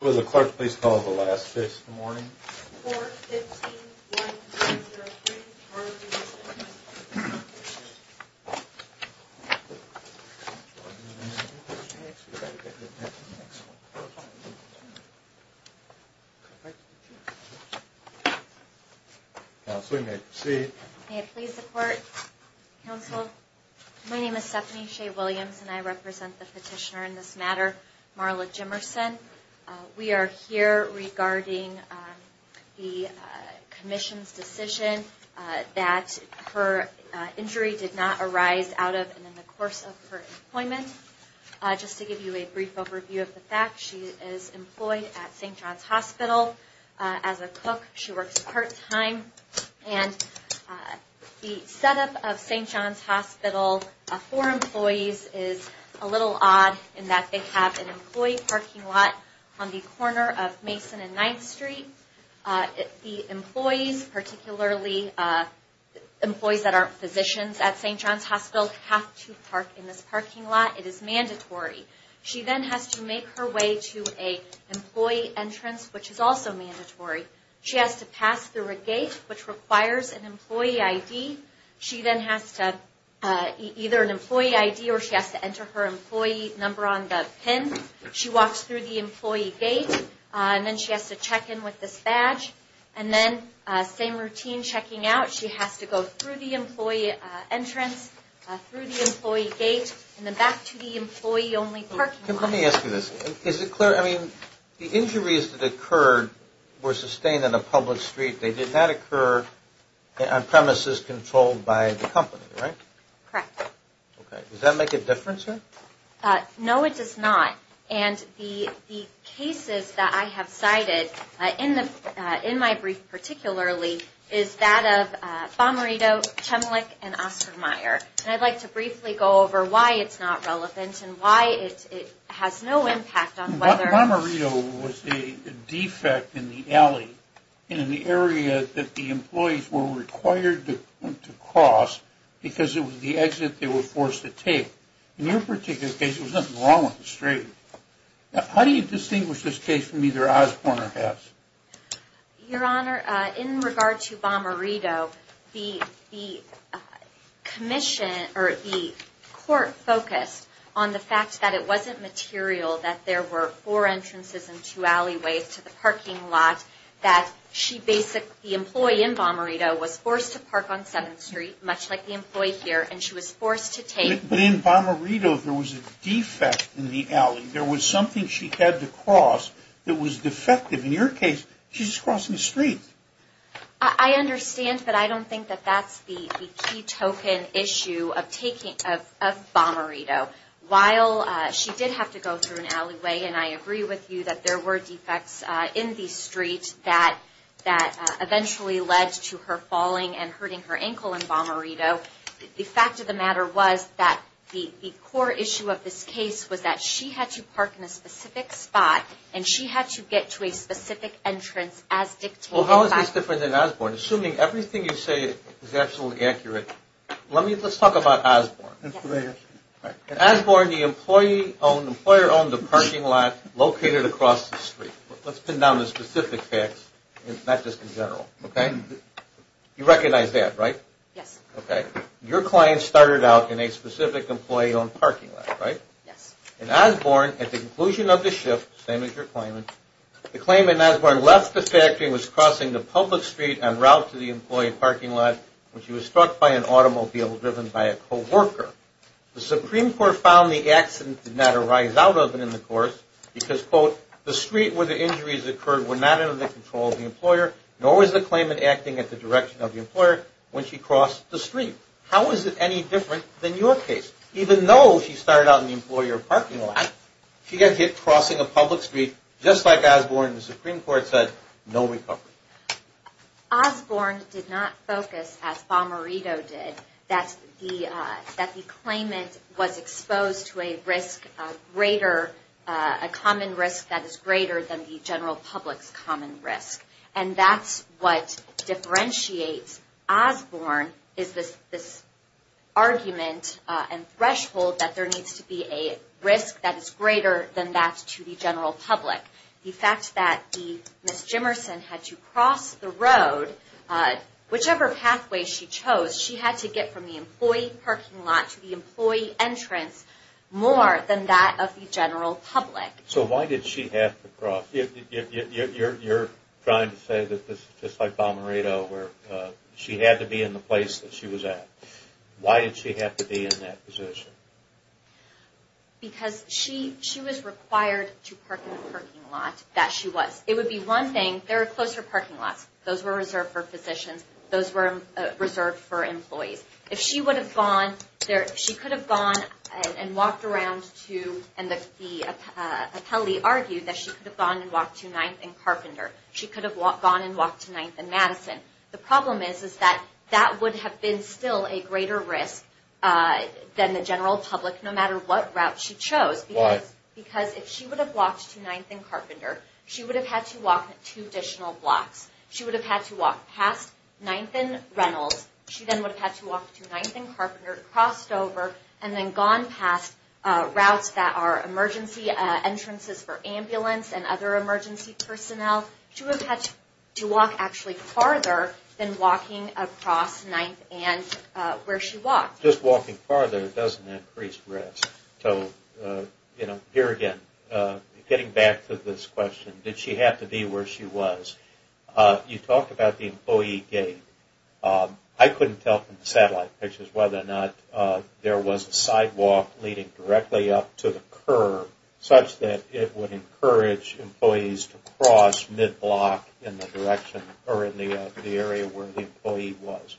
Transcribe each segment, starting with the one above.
Will the clerk please call the last case for the morning? 4-15-1203, Marla Jimerson. Counsel, you may proceed. May it please the court. Counsel, my name is Stephanie Shea Williams and I represent the petitioner in this matter, Marla Jimerson. We are here regarding the commission's decision that her injury did not arise out of and in the course of her employment. Just to give you a brief overview of the fact, she is employed at St. John's Hospital as a cook. She works part time and the setup of St. John's Hospital for employees is a little odd in that they have an employee parking lot on the corner of Mason and 9th Street. The employees, particularly employees that aren't physicians at St. John's Hospital, have to park in this parking lot. It is mandatory. She then has to make her way to an employee entrance, which is also mandatory. She has to pass through a gate, which requires an employee ID. She then has to, either an employee ID or she has to enter her employee number on the pin. She walks through the employee gate and then she has to check in with this badge. And then same routine checking out. She has to go through the employee entrance, through the employee gate, and then back to the employee only parking lot. Let me ask you this. Is it clear? I mean, the injuries that occurred were sustained on a public street. They did not occur on premises controlled by the company, right? Correct. Does that make a difference here? No, it does not. And the cases that I have cited, in my brief particularly, is that of Bomarito, Chemlik, and Ostermeyer. And I'd like to briefly go over why it's not relevant and why it has no impact on whether... Bomarito was a defect in the alley, in the area that the employees were required to cross because it was the exit they were forced to take. In your particular case, there was nothing wrong with the street. How do you distinguish this case from either Osborne or Hess? Your Honor, in regard to Bomarito, the court focused on the fact that it wasn't material, that there were four entrances and two alleyways to the parking lot, that the employee in Bomarito was forced to park on 7th Street, much like the employee here, and she was forced to take... But in Bomarito, there was a defect in the alley. There was something she had to cross that was defective. In your case, she's crossing the street. I understand, but I don't think that that's the key token issue of Bomarito. While she did have to go through an alleyway, and I agree with you that there were defects in the street that eventually led to her falling and hurting her ankle in Bomarito, the fact of the matter was that the core issue of this case was that she had to park in a specific spot and she had to get to a specific entrance as dictated by... Well, how is this different than Osborne? Assuming everything you say is absolutely accurate, let's talk about Osborne. Osborne, the employer owned the parking lot located across the street. Let's pin down the specific facts, not just in general, okay? You recognize that, right? Yes. Okay. Your client started out in a specific employee-owned parking lot, right? Yes. And Osborne, at the conclusion of the shift, same as your claimant, the claimant, Osborne, left the factory and was crossing the public street en route to the employee parking lot when she was struck by an automobile driven by a co-worker. The Supreme Court found the accident did not arise out of and in the course because, quote, the street where the injuries occurred were not under the control of the employer nor was the claimant acting at the direction of the employer when she crossed the street. How is it any different than your case? Even though she started out in the employer parking lot, she got hit crossing a public street, just like Osborne, the Supreme Court said, no recovery. Osborne did not focus, as Bomarito did, that the claimant was exposed to a risk greater, a common risk that is greater than the general public's common risk. And that's what differentiates Osborne is this argument and threshold that there needs to be a risk that is greater than that to the general public. The fact that Ms. Jimerson had to cross the road, whichever pathway she chose, she had to get from the employee parking lot to the employee entrance more than that of the general public. So why did she have to cross? You're trying to say that this is just like Bomarito where she had to be in the place that she was at. Why did she have to be in that position? Because she was required to park in the parking lot that she was. It would be one thing, there are closer parking lots. Those were reserved for physicians. Those were reserved for employees. If she would have gone, she could have gone and walked around to, and the appellee argued that she could have gone and walked to 9th and Carpenter. She could have gone and walked to 9th and Madison. The problem is that that would have been still a greater risk than the general public, no matter what route she chose. Why? Because if she would have walked to 9th and Carpenter, she would have had to walk two additional blocks. She would have had to walk past 9th and Reynolds. She then would have had to walk to 9th and Carpenter, crossed over, and then gone past routes that are emergency entrances for ambulance and other emergency personnel. She would have had to walk actually farther than walking across 9th and where she walked. Just walking farther doesn't increase risk. So, you know, here again, getting back to this question, did she have to be where she was? You talked about the employee gate. I couldn't tell from the satellite pictures whether or not there was a sidewalk leading directly up to the curb, such that it would encourage employees to cross mid-block in the direction or in the area where the employee was.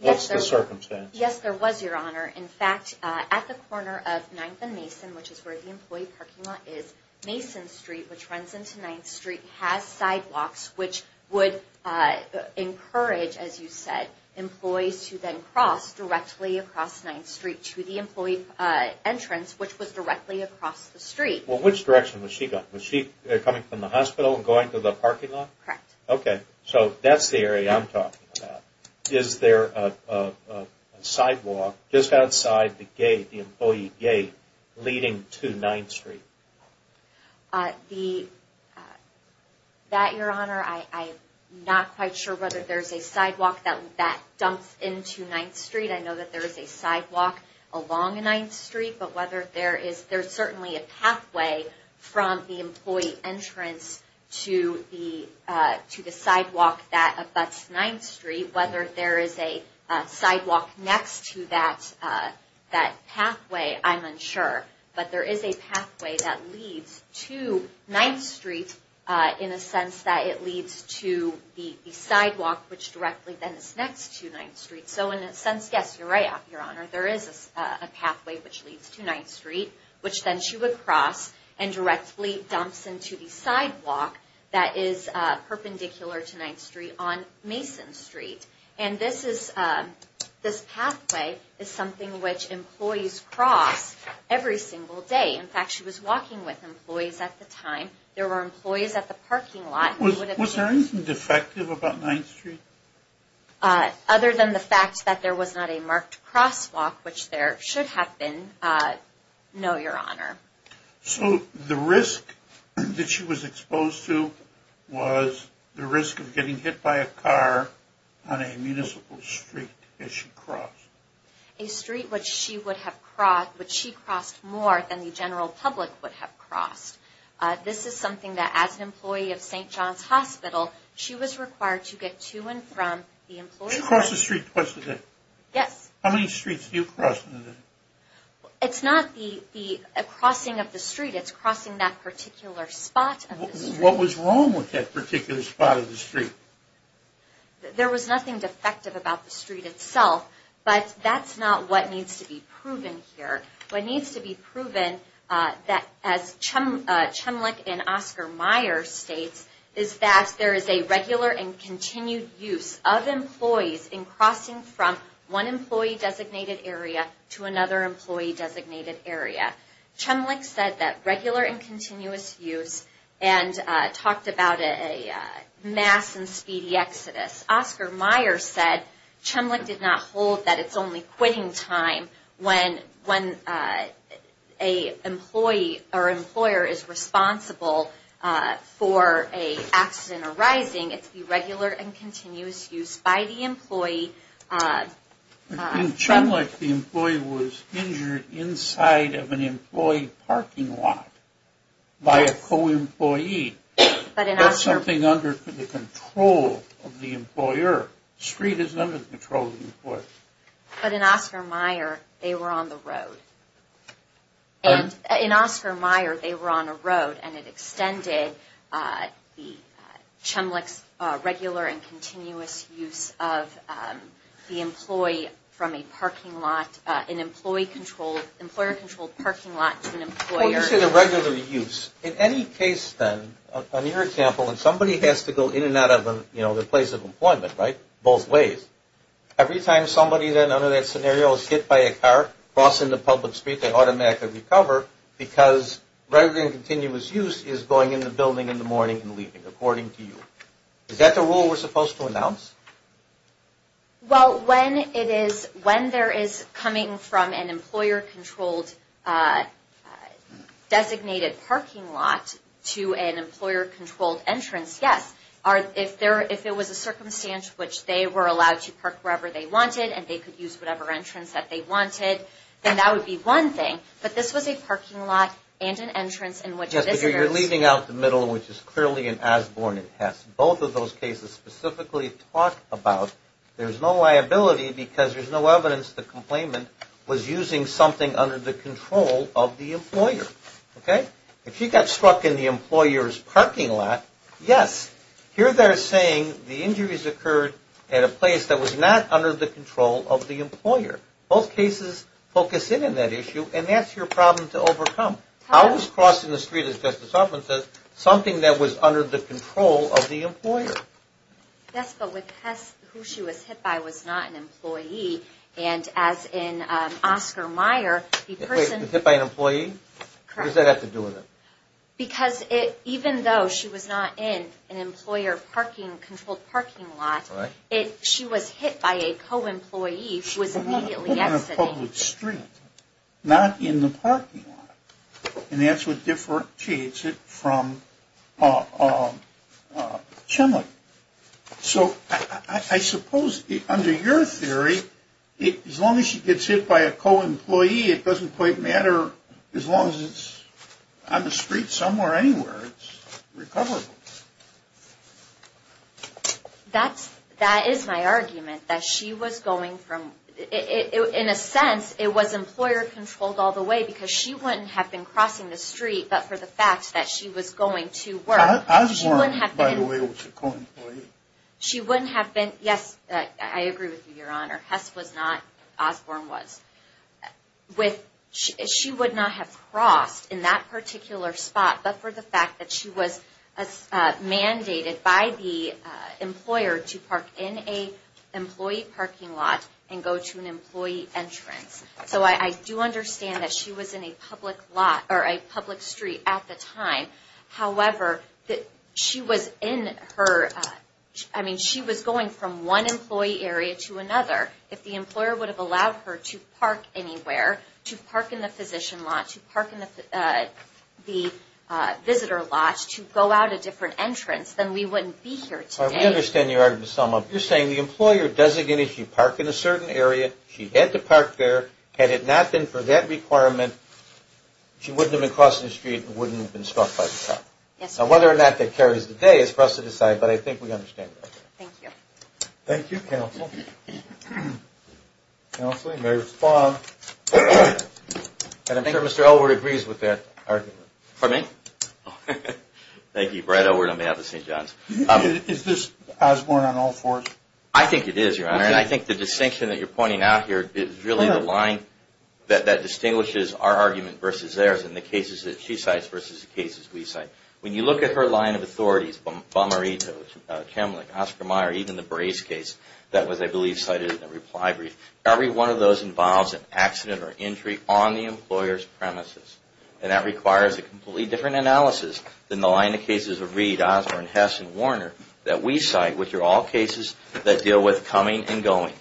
What's the circumstance? Yes, there was, Your Honor. In fact, at the corner of 9th and Mason, which is where the employee parking lot is, Mason Street, which runs into 9th Street, has sidewalks, which would encourage, as you said, employees to then cross directly across 9th Street to the employee entrance, which was directly across the street. Well, which direction was she going? Was she coming from the hospital and going to the parking lot? Correct. Okay. So that's the area I'm talking about. Is there a sidewalk just outside the gate, the employee gate, leading to 9th Street? That, Your Honor, I'm not quite sure whether there's a sidewalk that dumps into 9th Street. I know that there is a sidewalk along 9th Street. There's certainly a pathway from the employee entrance to the sidewalk that abuts 9th Street. Whether there is a sidewalk next to that pathway, I'm unsure. But there is a pathway that leads to 9th Street in a sense that it leads to the sidewalk, which directly then is next to 9th Street. So in a sense, yes, you're right, Your Honor. There is a pathway which leads to 9th Street, which then she would cross and directly dumps into the sidewalk that is perpendicular to 9th Street on Mason Street. And this pathway is something which employees cross every single day. In fact, she was walking with employees at the time. There were employees at the parking lot. Was there anything defective about 9th Street? Other than the fact that there was not a marked crosswalk, which there should have been, no, Your Honor. So the risk that she was exposed to was the risk of getting hit by a car on a municipal street that she crossed? A street which she crossed more than the general public would have crossed. This is something that as an employee of St. John's Hospital, she was required to get to and from the employees. She crossed the street twice a day? Yes. How many streets do you cross in a day? It's not the crossing of the street. It's crossing that particular spot of the street. What was wrong with that particular spot of the street? There was nothing defective about the street itself, but that's not what needs to be proven here. What needs to be proven, as Chemlich and Oscar Meyer states, is that there is a regular and continued use of employees in crossing from one employee-designated area to another employee-designated area. Chemlich said that regular and continuous use, and talked about a mass and speedy exodus. As Oscar Meyer said, Chemlich did not hold that it's only quitting time when an employer is responsible for an accident arising. It's the regular and continuous use by the employee. In Chemlich, the employee was injured inside of an employee parking lot by a co-employee. That's something under the control of the employer. The street isn't under the control of the employer. But in Oscar Meyer, they were on the road. In Oscar Meyer, they were on a road, and it extended Chemlich's regular and continuous use of the employee from a parking lot, When you say the regular use, in any case then, on your example, when somebody has to go in and out of the place of employment, right, both ways, every time somebody then under that scenario is hit by a car crossing the public street, they automatically recover because regular and continuous use is going in the building in the morning and leaving, according to you. Is that the rule we're supposed to announce? Well, when there is coming from an employer-controlled designated parking lot to an employer-controlled entrance, yes. If it was a circumstance in which they were allowed to park wherever they wanted and they could use whatever entrance that they wanted, then that would be one thing. But this was a parking lot and an entrance in which visitors – But you're leaving out the middle, which is clearly an Asborne and Hess. Both of those cases specifically talk about there's no liability because there's no evidence the complainant was using something under the control of the employer. Okay? If she got struck in the employer's parking lot, yes. Here they're saying the injuries occurred at a place that was not under the control of the employer. Both cases focus in on that issue, and that's your problem to overcome. I was crossing the street, as Justice Altman says, something that was under the control of the employer. Yes, but with Hess, who she was hit by was not an employee. And as in Oscar Meyer, the person – Hit by an employee? Correct. What does that have to do with it? Because even though she was not in an employer-controlled parking lot, she was hit by a co-employee who was immediately exiting. On a public street, not in the parking lot. And that's what differentiates it from Chenley. So I suppose under your theory, as long as she gets hit by a co-employee, it doesn't quite matter. As long as it's on the street somewhere, anywhere, it's recoverable. That is my argument, that she was going from – in a sense, it was employer-controlled all the way because she wouldn't have been crossing the street, but for the fact that she was going to work – Osborne, by the way, was a co-employee. She wouldn't have been – yes, I agree with you, Your Honor. Hess was not. Osborne was. She would not have crossed in that particular spot, but for the fact that she was mandated by the employer to park in an employee parking lot and go to an employee entrance. So I do understand that she was in a public street at the time. However, she was in her – I mean, she was going from one employee area to another. If the employer would have allowed her to park anywhere, to park in the physician lot, to park in the visitor lot, to go out a different entrance, then we wouldn't be here today. I understand your argument, Ms. Selma. You're saying the employer designated she park in a certain area, she had to park there. Had it not been for that requirement, she wouldn't have been crossing the street and wouldn't have been stopped by the cop. Yes, Your Honor. Now, whether or not that carries today is for us to decide, but I think we understand that. Thank you. Thank you, Counsel. Counsel, you may respond. And I'm sure Mr. Elwood agrees with that argument. Pardon me? Thank you, Brett Elwood on behalf of St. John's. Is this Osborne on all fours? I think it is, Your Honor, and I think the distinction that you're pointing out here is really the line that distinguishes our argument versus theirs and the cases that she cites versus the cases we cite. When you look at her line of authorities, Bomarito, Kemlich, Oscar Meyer, even the Brace case that was, I believe, cited in the reply brief, every one of those involves an accident or injury on the employer's premises. And that requires a completely different analysis than the line of cases of Reed, Osborne, Hess, and Warner that we cite, which are all cases that deal with coming and going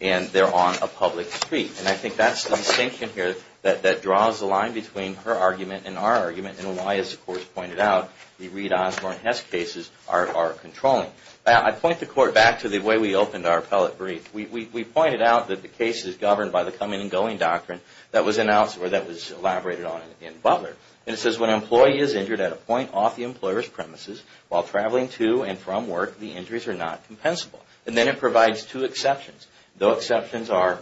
and they're on a public street. And I think that's the distinction here that draws the line between her argument and our argument and why, as the Court has pointed out, the Reed, Osborne, Hess cases are controlling. I point the Court back to the way we opened our appellate brief. We pointed out that the case is governed by the coming and going doctrine that was elaborated on in Butler. And it says, when an employee is injured at a point off the employer's premises while traveling to and from work, the injuries are not compensable. And then it provides two exceptions. The exceptions are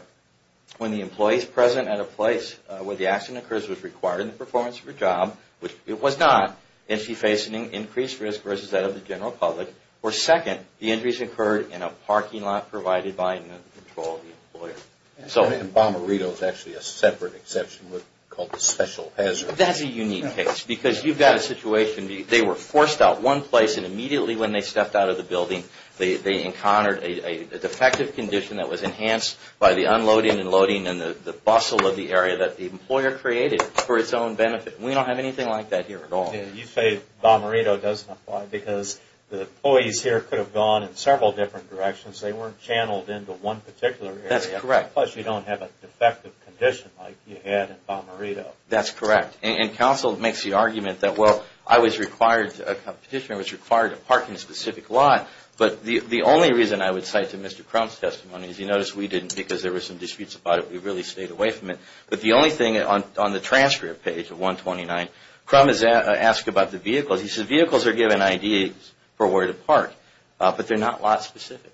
when the employee is present at a place where the accident occurs which was required in the performance of her job, which it was not, and she faced an increased risk versus that of the general public. Or second, the injuries occurred in a parking lot provided by and under the control of the employer. And Bomarito is actually a separate exception called the special hazard. That's a unique case because you've got a situation. They were forced out one place and immediately when they stepped out of the building, they encountered a defective condition that was enhanced by the unloading and loading and the bustle of the area that the employer created for its own benefit. We don't have anything like that here at all. You say Bomarito doesn't apply because the employees here could have gone in several different directions. They weren't channeled into one particular area. That's correct. Plus you don't have a defective condition like you had in Bomarito. That's correct. And counsel makes the argument that, well, I was required, a petitioner was required to park in a specific lot, but the only reason I would cite to Mr. Crump's testimony, as you notice, we didn't because there were some disputes about it. We really stayed away from it. But the only thing on the transfer page of 129, Crump has asked about the vehicles. He says vehicles are given IDs for where to park, but they're not lot specific.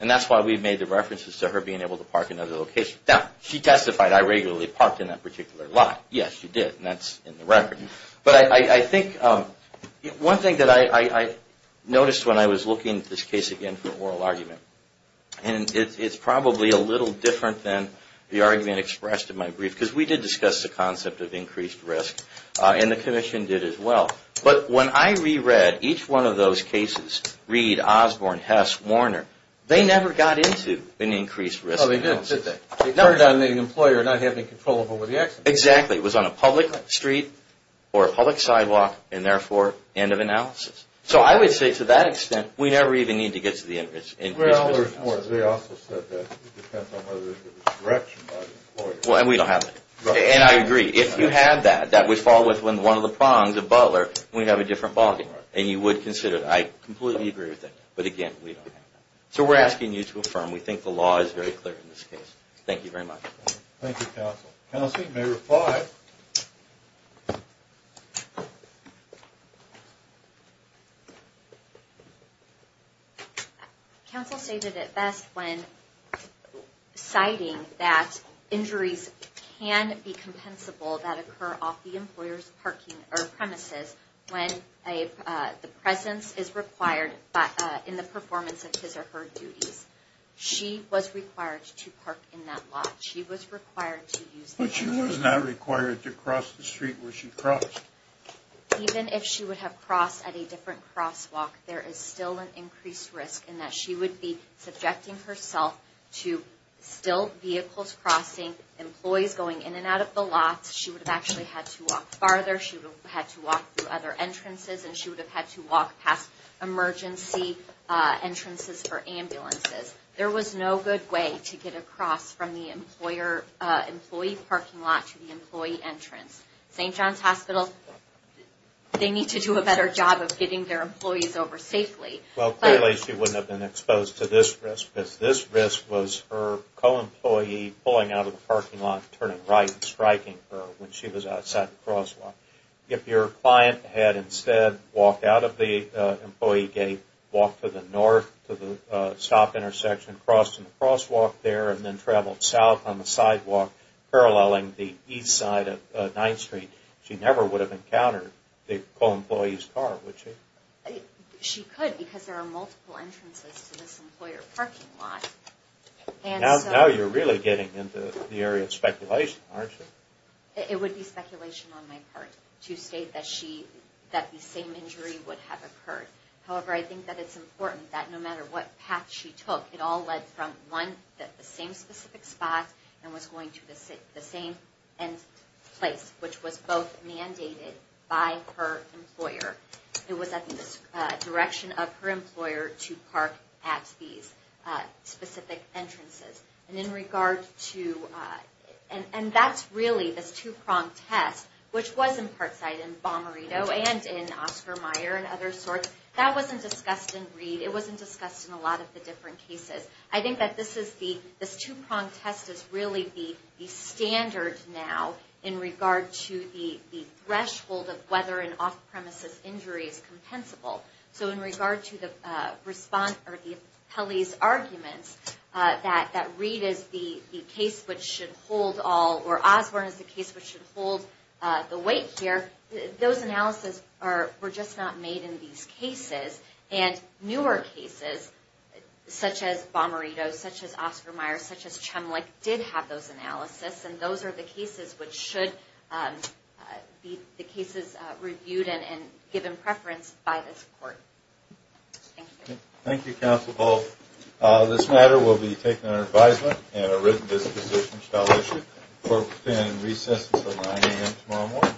And that's why we've made the references to her being able to park in other locations. Now, she testified I regularly parked in that particular lot. Yes, she did, and that's in the record. But I think one thing that I noticed when I was looking at this case again for oral argument, and it's probably a little different than the argument expressed in my brief, because we did discuss the concept of increased risk, and the commission did as well. But when I reread each one of those cases, Reed, Osborne, Hess, Warner, they never got into an increased risk analysis. Oh, they didn't, did they? They turned down the employer not having control over the accident. Exactly. It was on a public street or a public sidewalk, and therefore, end of analysis. So I would say to that extent, we never even need to get to the increased risk analysis. Well, Osborne, they also said that it depends on whether there's a restriction by the employer. Well, and we don't have that. And I agree. If you had that, that would fall within one of the prongs of Butler, and we'd have a different bargain. And you would consider it. I completely agree with that. But again, we don't have that. So we're asking you to affirm. We think the law is very clear in this case. Thank you very much. Thank you, counsel. Counsel, you may reply. Counsel stated it best when citing that injuries can be compensable that occur off the employer's parking or premises when the presence is required in the performance of his or her duties. She was required to park in that lot. She was required to use that lot. But she was not required to cross the street where she crossed. Even if she would have crossed at a different crosswalk, there is still an increased risk in that she would be subjecting herself to still vehicles crossing, employees going in and out of the lot. She would have actually had to walk farther. She would have had to walk through other entrances, and she would have had to walk past emergency entrances for ambulances. There was no good way to get across from the employee parking lot to the employee entrance. St. John's Hospital, they need to do a better job of getting their employees over safely. Well, clearly she wouldn't have been exposed to this risk because this risk was her co-employee pulling out of the parking lot, turning right and striking her when she was outside the crosswalk. If your client had instead walked out of the employee gate, walked to the north to the stop intersection, crossed in the crosswalk there, and then traveled south on the sidewalk paralleling the east side of 9th Street, she never would have encountered the co-employee's car, would she? She could because there are multiple entrances to this employer parking lot. Now you're really getting into the area of speculation, aren't you? It would be speculation on my part to state that the same injury would have occurred. However, I think that it's important that no matter what path she took, it all led from one, the same specific spot, and was going to the same place, which was both mandated by her employer. It was at the direction of her employer to park at these specific entrances. And that's really this two-pronged test, which was in Parkside and Bomberito and in Oscar Meyer and other sorts. That wasn't discussed in Reed. It wasn't discussed in a lot of the different cases. I think that this two-pronged test is really the standard now in regard to the threshold of whether an off-premises injury is compensable. So in regard to Pelley's arguments that Reed is the case which should hold all, or Osborne is the case which should hold the weight here, those analyses were just not made in these cases. And newer cases, such as Bomberito, such as Oscar Meyer, such as Chemlik, did have those analyses. And those are the cases which should be the cases reviewed and given preference by this court. Thank you. Thank you, Counsel Polk. This matter will be taken under advisement and a written disposition shall be issued. Court will begin in recess until 9 a.m. tomorrow morning.